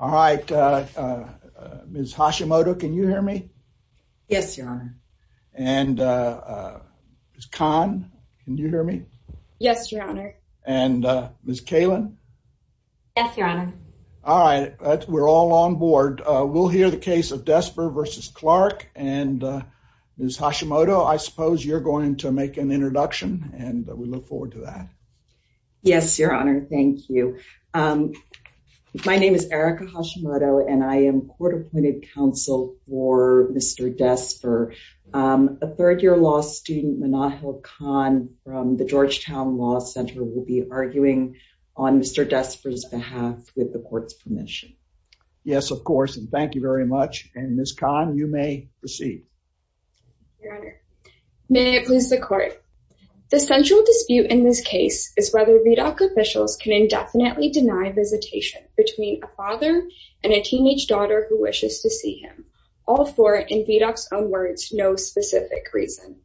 All right. Ms. Hashimoto, can you hear me? Yes, your honor. And Ms. Kahn, can you hear me? Yes, your honor. And Ms. Kalin? Yes, your honor. All right. We're all on board. We'll hear the case of Desper v. Clarke. And Ms. Hashimoto, I suppose you're going to make an introduction. And we look forward to that. Yes, your honor. Thank you. My name is Erica Hashimoto, and I am court appointed counsel for Mr. Desper. A third year law student, Manahil Khan from the Georgetown Law Center, will be arguing on Mr. Desper's behalf with the court's permission. Yes, of course. And thank you very much. And Ms. Kahn, you may proceed. Your honor, may it please the court. The central dispute in this case is whether VDOC officials can indefinitely deny visitation between a father and a teenage daughter who wishes to see him, all for, in VDOC's own words, no specific reason.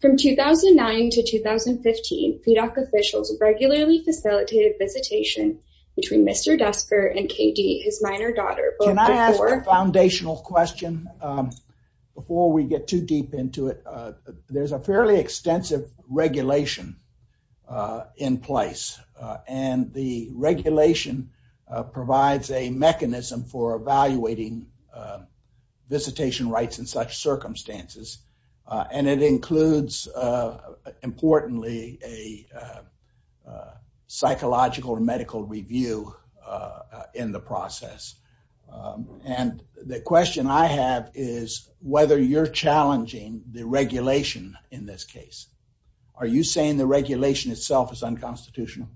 From 2009 to 2015, VDOC officials regularly facilitated visitation between Mr. Desper and KD, his minor daughter. Can I ask a foundational question before we get too deep into it? There's a fairly extensive regulation in place, and the regulation provides a mechanism for evaluating visitation rights in such circumstances. And it includes, importantly, a psychological or medical review in the process. And the question I have is whether you're challenging the regulation in this case. Are you saying the regulation itself is unconstitutional?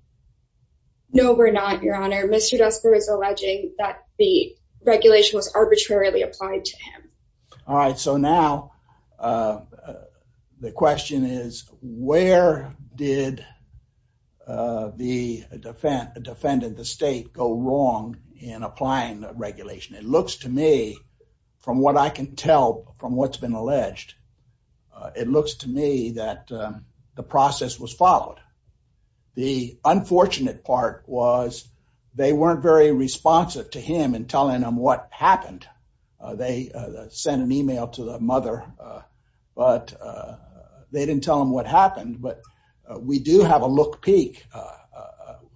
No, we're not, your honor. Mr. Desper is alleging that the regulation was arbitrarily applied to him. All right, so now the question is, where did the defendant, the state, go wrong in applying the regulation? It looks to me, from what I can tell from what's been alleged, it looks to me that the process was followed. The unfortunate part was they weren't very responsive to him in telling him what happened. They sent an email to the mother, but they didn't tell him what happened. But we do have a look-peek,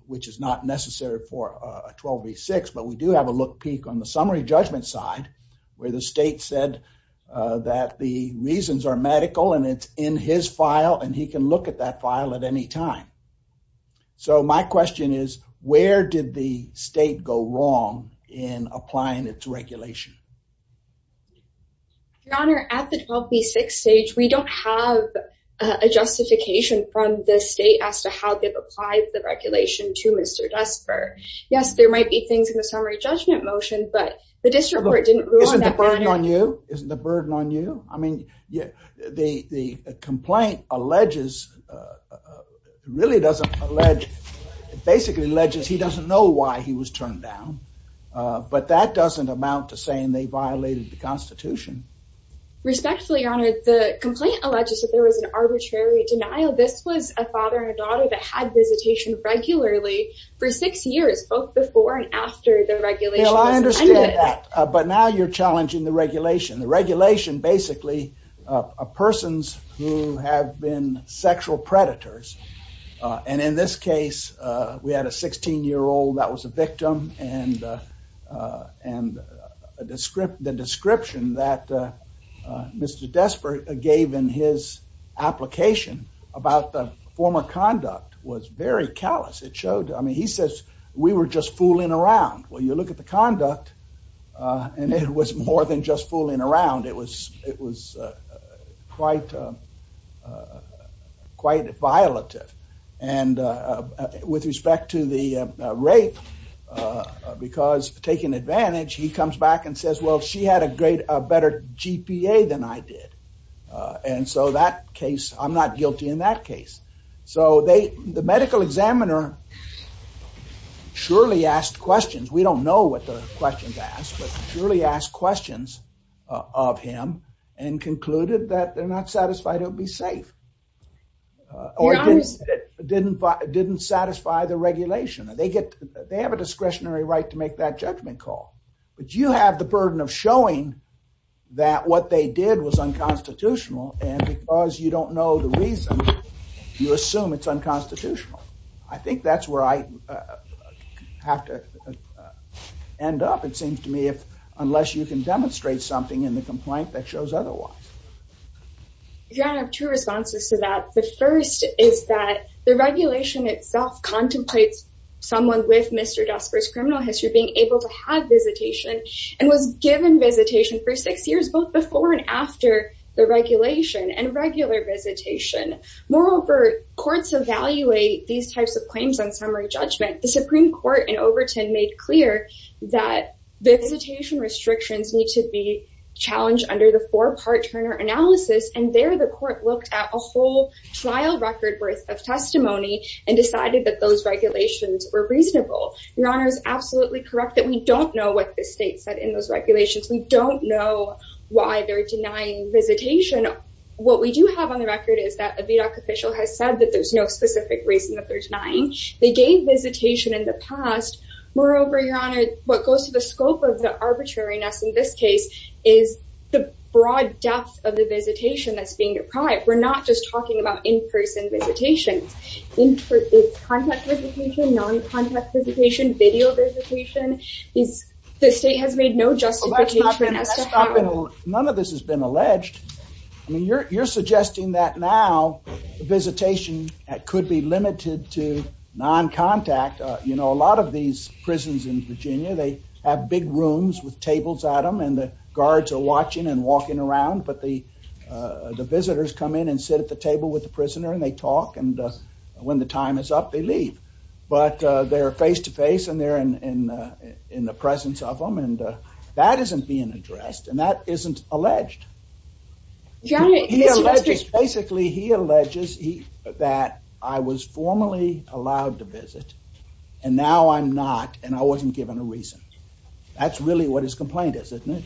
which is not necessary for a 12v6, but we do have a look-peek on the summary judgment side where the state said that the reasons are medical and it's in his file and he can look at that file at any time. So my question is, where did the state go wrong in applying its regulation? Your honor, at the 12v6 stage, we don't have a justification from the state as to how they've applied the regulation to Mr. Desper. Yes, there might be things in the summary judgment motion, but the district court didn't rule on that matter. Isn't the burden on you? I mean, the complaint alleges, really doesn't allege, basically alleges he doesn't know why he was turned down, but that doesn't amount to saying they violated the Constitution. Respectfully, your honor, the complaint alleges that there was an arbitrary denial. This was a father and a daughter that had visitation regularly for six years, both before and after the regulation was amended. But now you're challenging the regulation. The regulation basically, persons who have been sexual predators, and in this case, we had a 16-year-old that was a victim and the description that Mr. Desper gave in his application about the former conduct was very callous. It showed, I mean, he says, we were just fooling around. Well, you look at the conduct, and it was more than just fooling around. It was quite violative. And with respect to the rape, because taking advantage, he comes back and says, well, she had a better GPA than I did. And so that case, I'm not guilty in that case. So the medical examiner surely asked questions. We don't know what the questions asked, but surely asked questions of him and concluded that they're not satisfied he'll be safe. Or didn't satisfy the regulation. They have a discretionary right to make that judgment call. But you have the burden of showing that what they did was unconstitutional, and because you don't know the reason, you assume it's unconstitutional. I think that's where I have to end up, it seems to me, unless you can demonstrate something in the complaint that shows otherwise. Yeah, I have two responses to that. The first is that the regulation itself contemplates someone with Mr. Desper's criminal history being able to have visitation and was given visitation for six years, both before and after the regulation and regular visitation. Moreover, courts evaluate these types of claims on summary judgment. The Supreme Court in Overton made clear that visitation restrictions need to be challenged under the four-part Turner analysis. And there, the court looked at a whole trial record worth of testimony and decided that those regulations were reasonable. Your Honor is absolutely correct that we don't know what the state said in those regulations. We don't know why they're denying visitation. What we do have on the record is that a VDAC official has said that there's no specific reason that they're denying. They gave visitation in the past. Moreover, Your Honor, what goes to the scope of the arbitrariness in this case is the broad depth of the visitation that's being deprived. We're not just talking about in-person visitations. It's contact visitation, non-contact visitation, video visitation. The state has made no justification. None of this has been alleged. I mean, you're suggesting that now visitation could be limited to non-contact. You know, a lot of these prisons in Virginia, they have big rooms with tables at them and the guards are watching and walking around. But the visitors come in and sit at the table with the prisoner and they talk. And when the time is up, they leave. But they're face-to-face and they're in the presence of them. And that isn't being addressed and that isn't alleged. He alleges, basically, he alleges that I was formally allowed to visit and now I'm not and I wasn't given a reason. That's really what his complaint is, isn't it?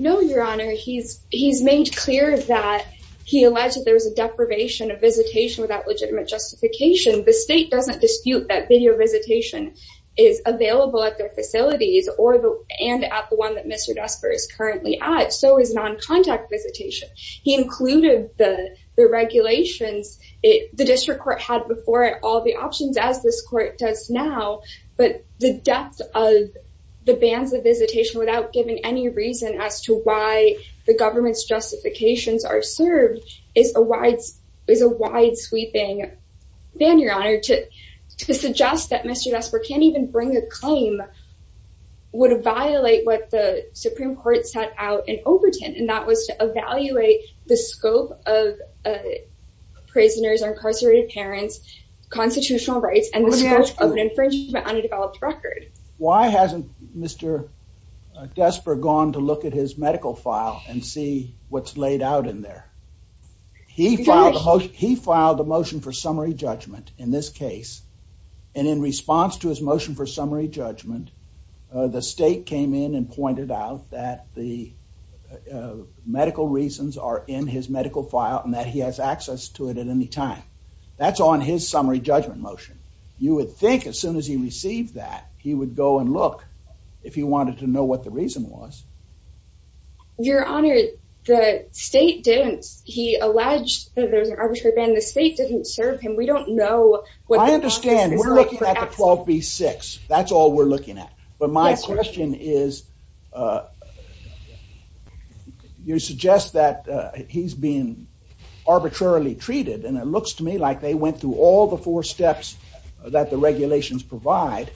No, Your Honor. He's made clear that he alleged there was a deprivation of visitation without legitimate justification. The state doesn't dispute that video visitation is available at their facilities and at the one that Mr. Desper is currently at. So is non-contact visitation. He included the regulations. The district court had before it all the options as this court does now. But the depth of the bans of visitation without giving any reason as to why the government's justifications are served is a wide sweeping ban, Your Honor. To suggest that Mr. Desper can't even bring a claim would violate what the Supreme Court set out in Overton. And that was to evaluate the scope of prisoners or incarcerated parents, constitutional rights, and the scope of an infringement on a developed record. Why hasn't Mr. Desper gone to look at his medical file and see what's laid out in there? He filed a motion for summary judgment in this case. And in response to his motion for summary judgment, the state came in and pointed out that the medical reasons are in his medical file and that he has access to it at any time. That's on his summary judgment motion. You would think as soon as he received that, he would go and look if he wanted to know what the reason was. Your Honor, the state didn't. He alleged that there was an arbitrary ban. The state didn't serve him. We don't know. I understand. We're looking at the 12B6. That's all we're looking at. But my question is, you suggest that he's being arbitrarily treated. And it looks to me like they went through all the four steps that the regulations provide.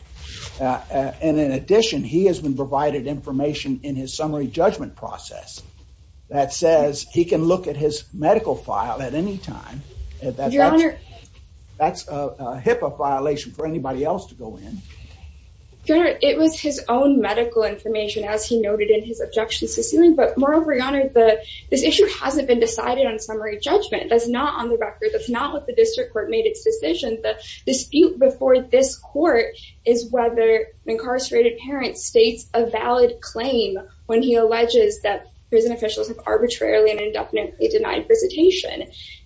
And in addition, he has been provided information in his summary judgment process that says he can look at his medical file at any time. That's a HIPAA violation for anybody else to go in. Your Honor, it was his own medical information, as he noted in his objections to suing. But moreover, Your Honor, this issue hasn't been decided on summary judgment. That's not on the record. That's not what the district court made its decision. The dispute before this court is whether an incarcerated parent states a valid claim when he alleges that prison officials have arbitrarily and indefinitely denied visitation.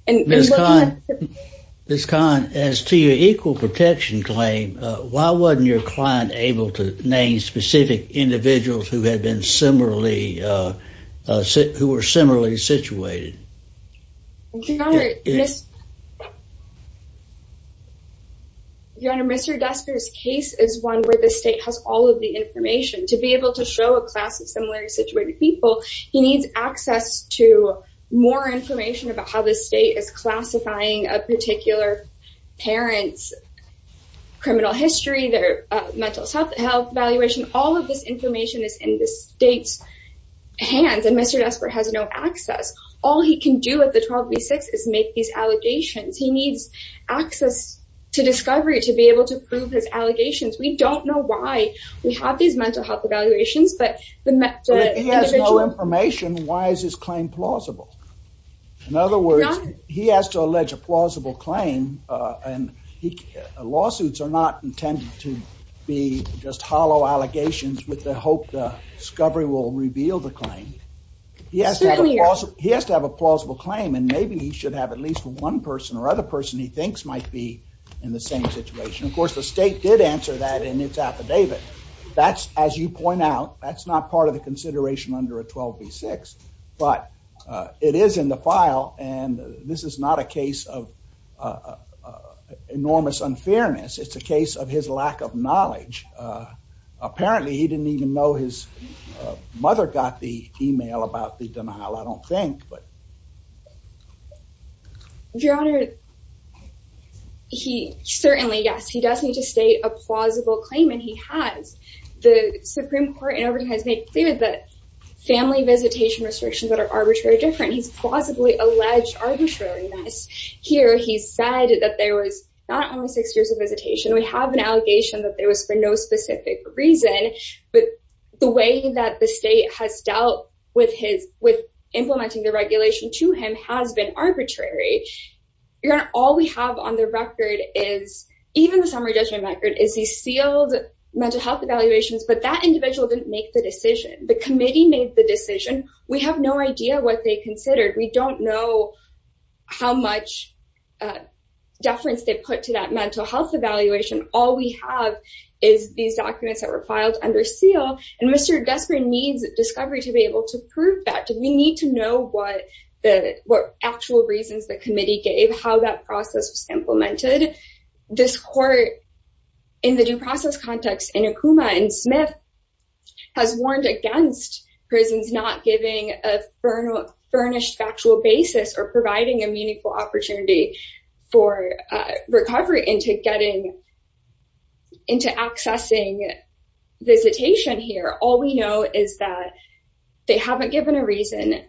Ms. Kahn, as to your equal protection claim, why wasn't your client able to name specific individuals who were similarly situated? Your Honor, Mr. Desper's case is one where the state has all of the information. To be able to show a class of similarly situated people, he needs access to more information about how the state is classifying a particular parent's criminal history, their mental health evaluation. All of this information is in the state's hands, and Mr. Desper has no access. All he can do at the 12B-6 is make these allegations. He needs access to discovery to be able to prove his allegations. We don't know why we have these mental health evaluations, but the individual— In other words, he has to allege a plausible claim, and lawsuits are not intended to be just hollow allegations with the hope that discovery will reveal the claim. He has to have a plausible claim, and maybe he should have at least one person or other person he thinks might be in the same situation. Of course, the state did answer that in its affidavit. As you point out, that's not part of the consideration under a 12B-6, but it is in the file, and this is not a case of enormous unfairness. It's a case of his lack of knowledge. Apparently, he didn't even know his mother got the email about the denial, I don't think. Your Honor, he—certainly, yes, he does need to state a plausible claim, and he has. The Supreme Court in Overton has made clear that family visitation restrictions that are arbitrary are different. He's plausibly alleged arbitrariness. Here, he said that there was not only six years of visitation. We have an allegation that there was for no specific reason, but the way that the state has dealt with implementing the regulation to him has been arbitrary. Your Honor, all we have on the record is—even the summary judgment record—is these sealed mental health evaluations, but that individual didn't make the decision. The committee made the decision. We have no idea what they considered. We don't know how much deference they put to that mental health evaluation. All we have is these documents that were filed under seal, and Mr. Desperate needs discovery to be able to prove that. We need to know what actual reasons the committee gave, how that process was implemented. This court, in the due process context, in Akuma and Smith, has warned against prisons not giving a furnished factual basis or providing a meaningful opportunity for recovery into getting—into accessing visitation here. All we know is that they haven't given a reason.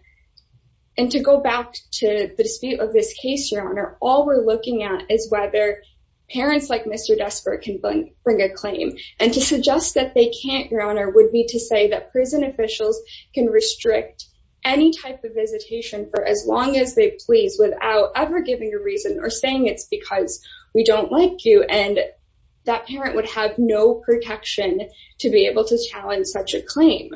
And to go back to the dispute of this case, Your Honor, all we're looking at is whether parents like Mr. Desperate can bring a claim. And to suggest that they can't, Your Honor, would be to say that prison officials can restrict any type of visitation for as long as they please without ever giving a reason or saying it's because we don't like you, and that parent would have no protection to be able to challenge such a claim.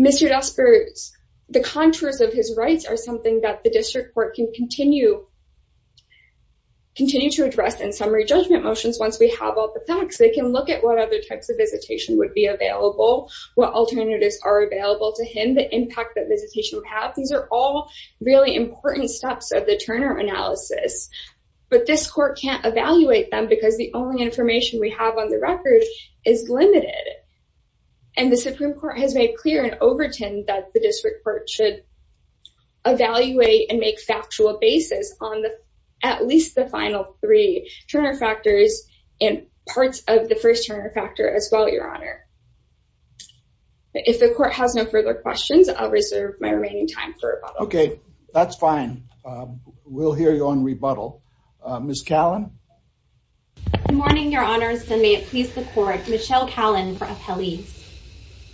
Mr. Desperate's—the contours of his rights are something that the district court can continue to address in summary judgment motions once we have all the facts. They can look at what other types of visitation would be available, what alternatives are available to him, the impact that visitation would have. These are all really important steps of the Turner analysis. But this court can't evaluate them because the only information we have on the record is limited. And the Supreme Court has made clear in Overton that the district court should evaluate and make factual basis on at least the final three Turner factors and parts of the first Turner factor as well, Your Honor. If the court has no further questions, I'll reserve my remaining time for rebuttal. Okay, that's fine. We'll hear you on rebuttal. Ms. Callan? Good morning, Your Honors, and may it please the court, Michelle Callan for appellees.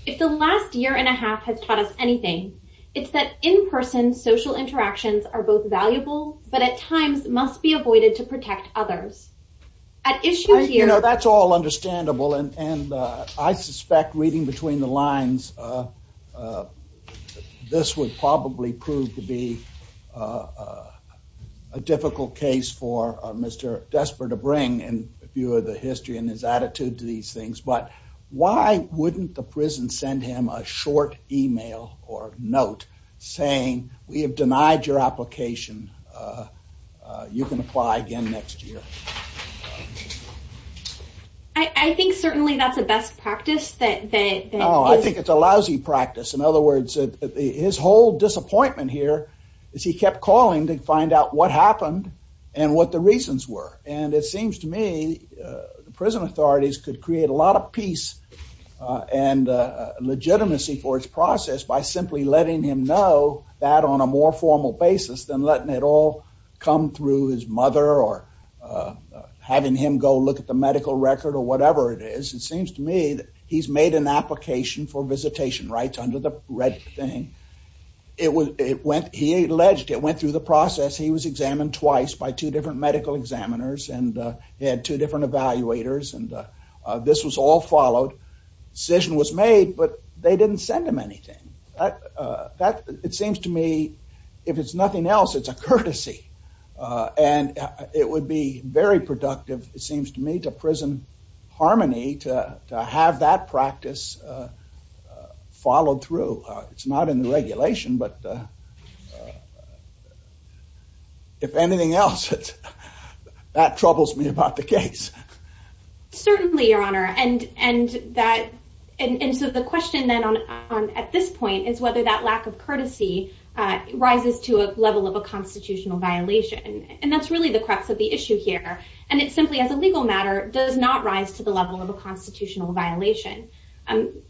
If the last year and a half has taught us anything, it's that in-person social interactions are both valuable, but at times must be avoided to protect others. At issue here— You know, that's all understandable, and I suspect reading between the lines, this would probably prove to be a difficult case for Mr. Desper to bring in view of the history and his attitude to these things. But why wouldn't the prison send him a short email or note saying, we have denied your application, you can apply again next year? I think certainly that's a best practice. No, I think it's a lousy practice. In other words, his whole disappointment here is he kept calling to find out what happened and what the reasons were. And it seems to me prison authorities could create a lot of peace and legitimacy for its process by simply letting him know that on a more formal basis than letting it all come through his mother or having him go look at the medical record or whatever it is. It seems to me that he's made an application for visitation rights under the red thing. It went—he alleged it went through the process. He was examined twice by two different medical examiners, and he had two different evaluators, and this was all followed. Decision was made, but they didn't send him anything. It seems to me, if it's nothing else, it's a courtesy. And it would be very productive, it seems to me, to prison harmony to have that practice followed through. It's not in the regulation, but if anything else, that troubles me about the case. Certainly, Your Honor. And so the question then at this point is whether that lack of courtesy rises to a level of a constitutional violation. And that's really the crux of the issue here. And it simply, as a legal matter, does not rise to the level of a constitutional violation.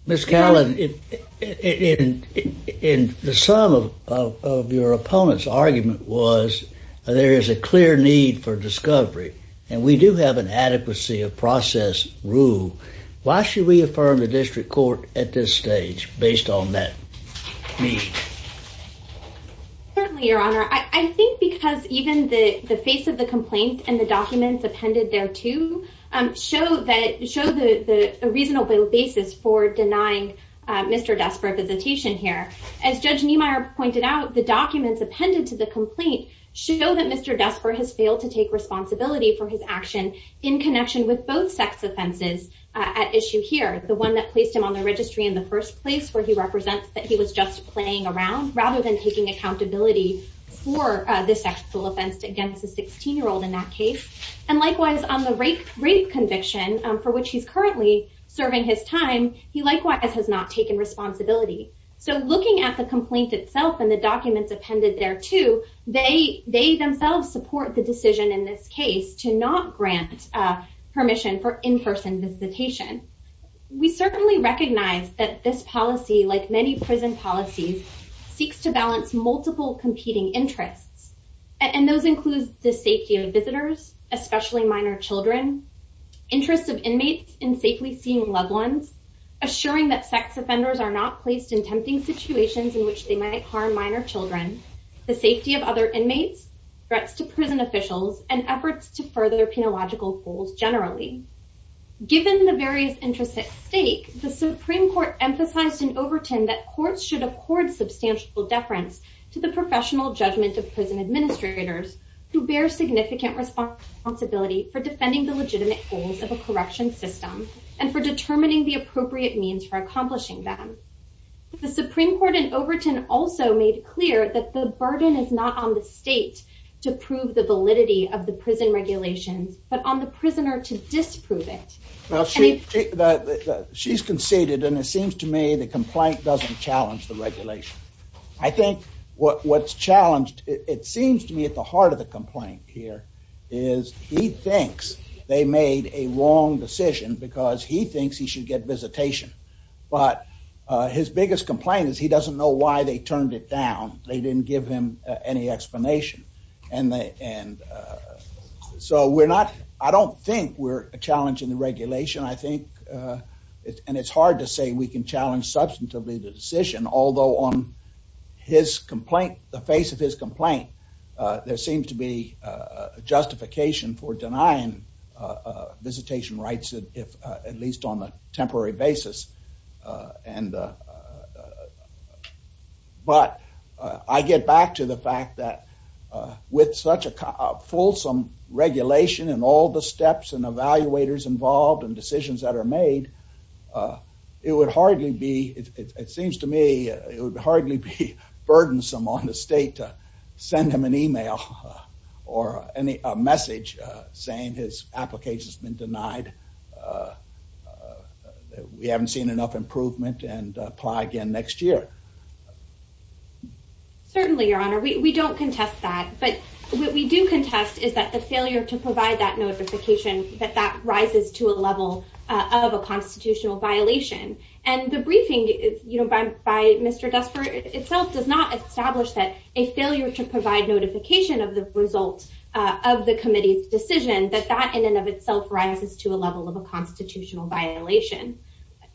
Ms. Callan, the sum of your opponent's argument was there is a clear need for discovery, and we do have an adequacy of process rule. Why should we affirm the district court at this stage based on that need? Certainly, Your Honor. I think because even the face of the complaint and the documents appended thereto show the reasonable basis for denying Mr. Desper a visitation here. As Judge Niemeyer pointed out, the documents appended to the complaint show that Mr. Desper has failed to take responsibility for his action in connection with both sex offenses at issue here. The one that placed him on the registry in the first place, where he represents that he was just playing around, rather than taking accountability for this sexual offense against a 16-year-old in that case. And likewise, on the rape conviction for which he's currently serving his time, he likewise has not taken responsibility. So looking at the complaint itself and the documents appended thereto, they themselves support the decision in this case to not grant permission for in-person visitation. We certainly recognize that this policy, like many prison policies, seeks to balance multiple competing interests. And those include the safety of visitors, especially minor children, interest of inmates in safely seeing loved ones, assuring that sex offenders are not placed in tempting situations in which they might harm minor children, the safety of other inmates, threats to prison officials, and efforts to further penological goals generally. Given the various interests at stake, the Supreme Court emphasized in Overton that courts should accord substantial deference to the professional judgment of prison administrators who bear significant responsibility for defending the legitimate goals of a correction system and for determining the appropriate means for accomplishing them. The Supreme Court in Overton also made clear that the burden is not on the state to prove the validity of the prison regulations, but on the prisoner to disprove it. She's conceded, and it seems to me the complaint doesn't challenge the regulation. I think what's challenged, it seems to me at the heart of the complaint here, is he thinks they made a wrong decision because he thinks he should get visitation. But his biggest complaint is he doesn't know why they turned it down. They didn't give him any explanation. And so we're not, I don't think we're challenging the regulation. I think, and it's hard to say we can challenge substantively the decision, although on his complaint, the face of his complaint, there seems to be justification for denying visitation rights, at least on a temporary basis. But I get back to the fact that with such a fulsome regulation and all the steps and evaluators involved and decisions that are made, it would hardly be, it seems to me, it would hardly be burdensome on the state to send him an email or a message saying his application's been denied, we haven't seen enough improvement, and apply again next year. Certainly, Your Honor, we don't contest that. But what we do contest is that the failure to provide that notification, that that rises to a level of a constitutional violation. And the briefing, you know, by Mr. Gusford itself does not establish that a failure to provide notification of the result of the committee's decision, that that in and of itself rises to a level of a constitutional violation.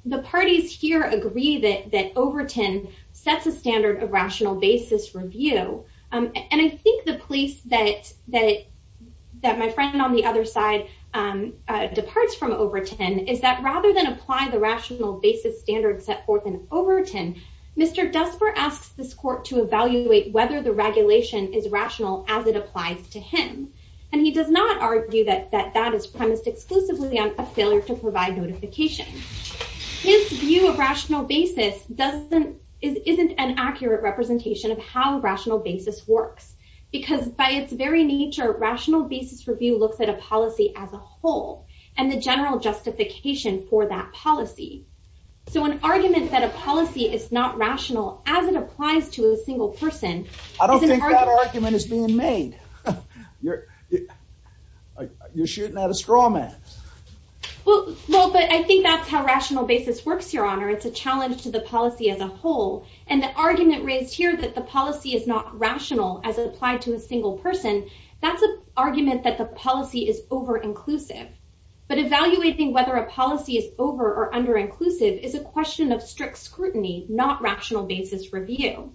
The parties here agree that Overton sets a standard of rational basis review. And I think the place that my friend on the other side departs from Overton is that rather than apply the rational basis standard set forth in Overton, Mr. Gusford asks this court to evaluate whether the regulation is rational as it applies to him. And he does not argue that that is premised exclusively on a failure to provide notification. His view of rational basis doesn't, isn't an accurate representation of how rational basis works. Because by its very nature, rational basis review looks at a policy as a whole and the general justification for that policy. So an argument that a policy is not rational as it applies to a single person is an argument… You're shooting at a straw man. Well, but I think that's how rational basis works, Your Honor. It's a challenge to the policy as a whole. And the argument raised here that the policy is not rational as it applied to a single person, that's an argument that the policy is over-inclusive. But evaluating whether a policy is over or under-inclusive is a question of strict scrutiny, not rational basis review.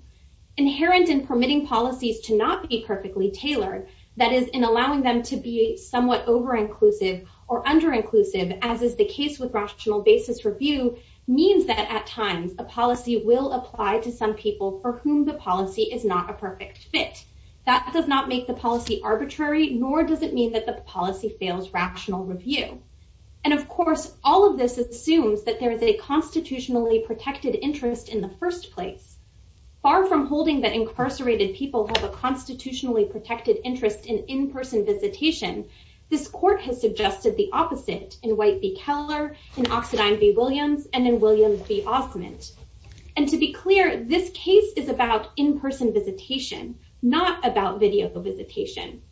Inherent in permitting policies to not be perfectly tailored, that is, in allowing them to be somewhat over-inclusive or under-inclusive, as is the case with rational basis review, means that at times a policy will apply to some people for whom the policy is not a perfect fit. That does not make the policy arbitrary, nor does it mean that the policy fails rational review. And of course, all of this assumes that there is a constitutionally protected interest in the first place. Far from holding that incarcerated people have a constitutionally protected interest in in-person visitation, this court has suggested the opposite in White v. Keller, in Oxidine v. Williams, and in Williams v. Osment. And to be clear, this case is about in-person visitation, not about video visitation.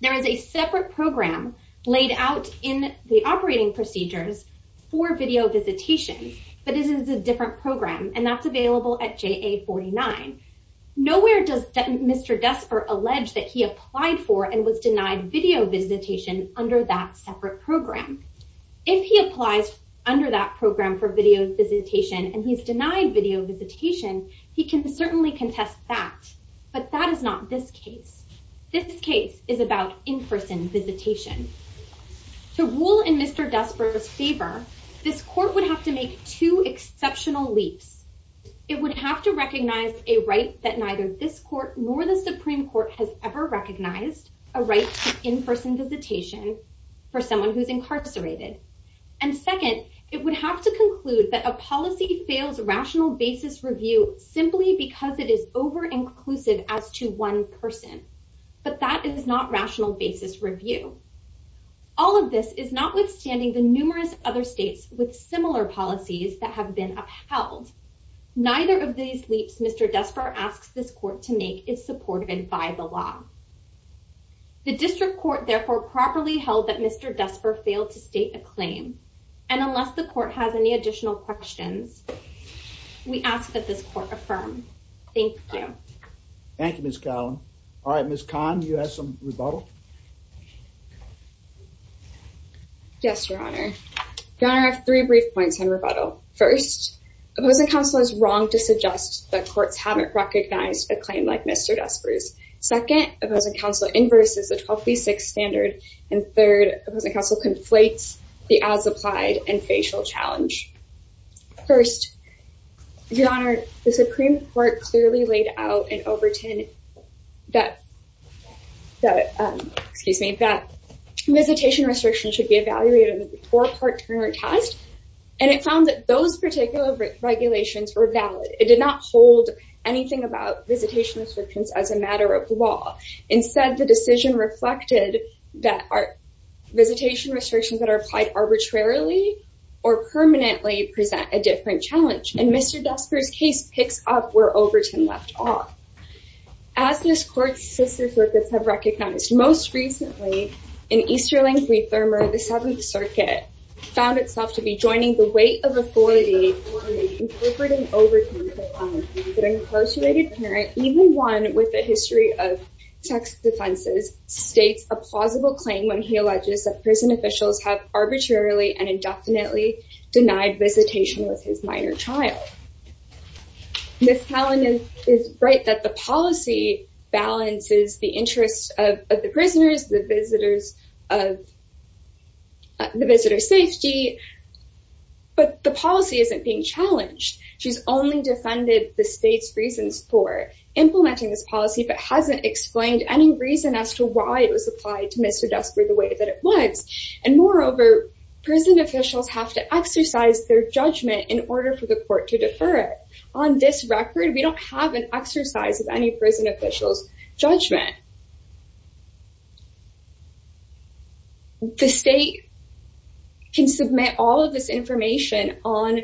There is a separate program laid out in the operating procedures for video visitation, but this is a different program, and that's available at JA 49. Nowhere does Mr. Desper allege that he applied for and was denied video visitation under that separate program. If he applies under that program for video visitation and he's denied video visitation, he can certainly contest that. But that is not this case. This case is about in-person visitation. To rule in Mr. Desper's favor, this court would have to make two exceptional leaps. It would have to recognize a right that neither this court nor the Supreme Court has ever recognized, a right to in-person visitation for someone who's incarcerated. And second, it would have to conclude that a policy fails rational basis review simply because it is over-inclusive as to one person. But that is not rational basis review. All of this is notwithstanding the numerous other states with similar policies that have been upheld. Neither of these leaps Mr. Desper asks this court to make is supported by the law. The district court therefore properly held that Mr. Desper failed to state a claim. And unless the court has any additional questions, we ask that this court affirm. Thank you. Thank you, Ms. Callum. All right, Ms. Kahn, you have some rebuttal? Yes, Your Honor. Your Honor, I have three brief points on rebuttal. First, opposing counsel is wrong to suggest that courts haven't recognized a claim like Mr. Desper's. Second, opposing counsel inverses the 1236 standard. And third, opposing counsel conflates the as-applied and facial challenge. First, Your Honor, the Supreme Court clearly laid out in Overton that visitation restrictions should be evaluated before a court-turner test. And it found that those particular regulations were valid. It did not hold anything about visitation restrictions as a matter of law. Instead, the decision reflected that visitation restrictions that are applied arbitrarily or permanently present a different challenge. And Mr. Desper's case picks up where Overton left off. As this court's sister circuits have recognized, most recently in Easterling v. Thurmer, the Seventh Circuit found itself to be joining the weight of authority in incorporating Overton. But an incarcerated parent, even one with a history of sex offenses, states a plausible claim when he alleges that prison officials have arbitrarily and indefinitely denied visitation with his minor child. Ms. Talon is right that the policy balances the interests of the prisoners, the visitor's safety. But the policy isn't being challenged. She's only defended the state's reasons for implementing this policy but hasn't explained any reason as to why it was applied to Mr. Desper the way that it was. And moreover, prison officials have to exercise their judgment in order for the court to defer it. On this record, we don't have an exercise of any prison official's judgment. The state can submit all of this information on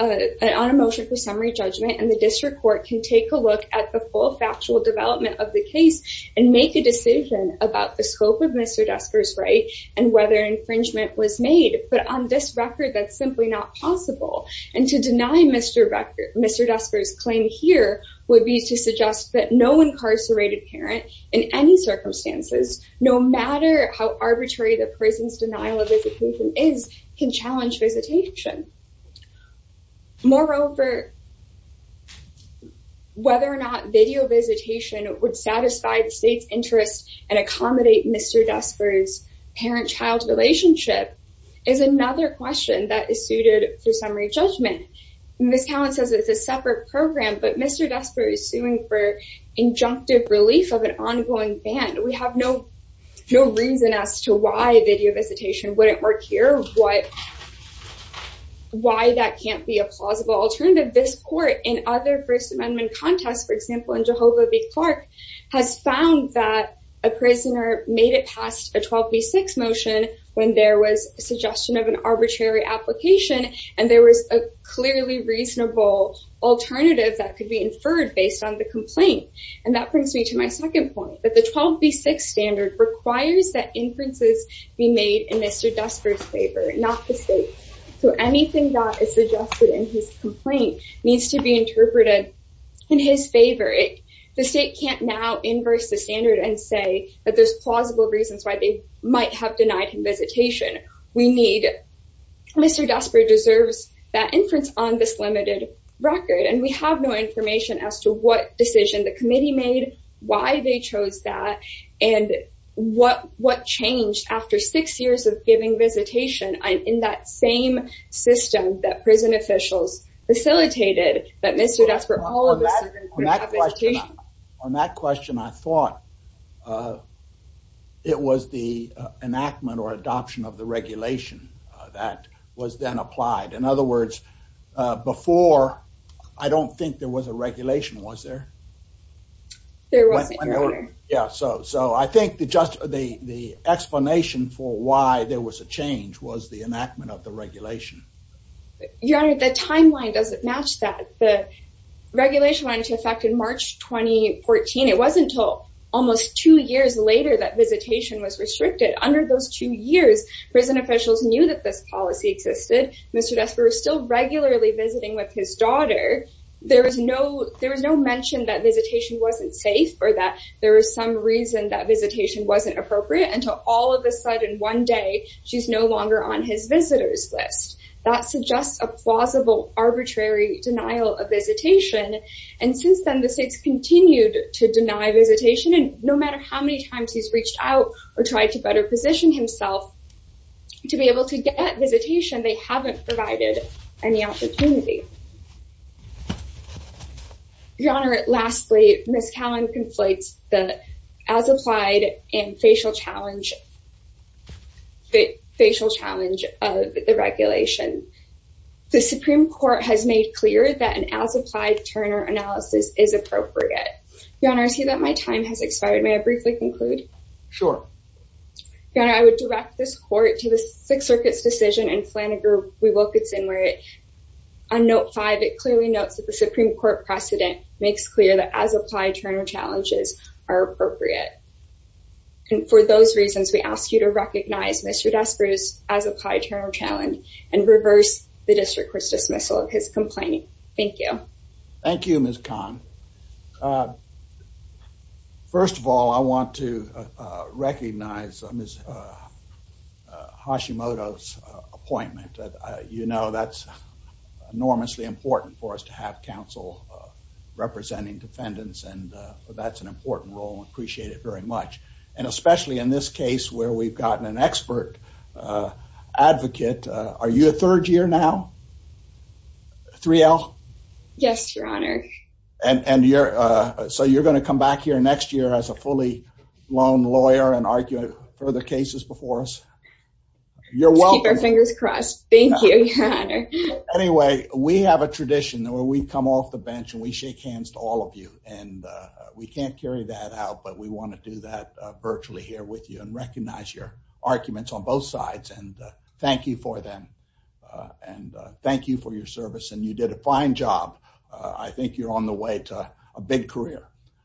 a motion for summary judgment and the district court can take a look at the full factual development of the case and make a decision about the scope of Mr. Desper's right and whether infringement was made. But on this record, that's simply not possible. And to deny Mr. Desper's claim here would be to suggest that no incarcerated parent in any circumstances, no matter how arbitrary the prison's denial of visitation is, can challenge visitation. Moreover, whether or not video visitation would satisfy the state's interest and accommodate Mr. Desper's parent-child relationship is another question that is suited for summary judgment. Ms. Talon says it's a separate program, but Mr. Desper is suing for injunctive relief of an ongoing ban. We have no reason as to why video visitation wouldn't work here, why that can't be a plausible alternative. This court in other First Amendment contests, for example in Jehovah v. Clark, has found that a prisoner made it past a 12b6 motion when there was a suggestion of an arbitrary application and there was a clearly reasonable alternative that could be inferred based on the complaint. And that brings me to my second point, that the 12b6 standard requires that inferences be made in Mr. Desper's favor, not the state's. So anything that is suggested in his complaint needs to be interpreted in his favor. The state can't now inverse the standard and say that there's plausible reasons why they might have denied him visitation. Mr. Desper deserves that inference on this limited record, and we have no information as to what decision the committee made, why they chose that, and what changed after six years of giving visitation in that same system that prison officials facilitated. On that question, I thought it was the enactment or adoption of the regulation that was then applied. In other words, before, I don't think there was a regulation, was there? There wasn't, Your Honor. Yeah, so I think the explanation for why there was a change was the enactment of the regulation. Your Honor, the timeline doesn't match that. The regulation went into effect in March 2014. It wasn't until almost two years later that visitation was restricted. Under those two years, prison officials knew that this policy existed. Mr. Desper was still regularly visiting with his daughter. There was no mention that visitation wasn't safe or that there was some reason that visitation wasn't appropriate, until all of a sudden, one day, she's no longer on his visitors list. That suggests a plausible, arbitrary denial of visitation. And since then, the states continued to deny visitation, and no matter how many times he's reached out or tried to better position himself to be able to get visitation, they haven't provided any opportunity. Your Honor, lastly, Ms. Callan conflates the as-applied and facial challenge of the regulation. The Supreme Court has made clear that an as-applied Turner analysis is appropriate. Your Honor, I see that my time has expired. May I briefly conclude? Sure. Your Honor, I would direct this court to the Sixth Circuit's decision in Flanagan, Wilkinson, where on Note 5, it clearly notes that the Supreme Court precedent makes clear that as-applied Turner challenges are appropriate. And for those reasons, we ask you to recognize Mr. Desper's as-applied Turner challenge and reverse the district court's dismissal of his complaint. Thank you. Thank you, Ms. Callan. First of all, I want to recognize Ms. Hashimoto's appointment. You know that's enormously important for us to have counsel representing defendants, and that's an important role. We appreciate it very much. And especially in this case where we've gotten an expert advocate. Are you a third year now, 3L? Yes, Your Honor. And so you're going to come back here next year as a fully-blown lawyer and argue further cases before us? Let's keep our fingers crossed. Thank you, Your Honor. Anyway, we have a tradition where we come off the bench and we shake hands to all of you. And we can't carry that out, but we want to do that virtually here with you and recognize your arguments on both sides. And thank you for them. And thank you for your service. And you did a fine job. I think you're on the way to a big career.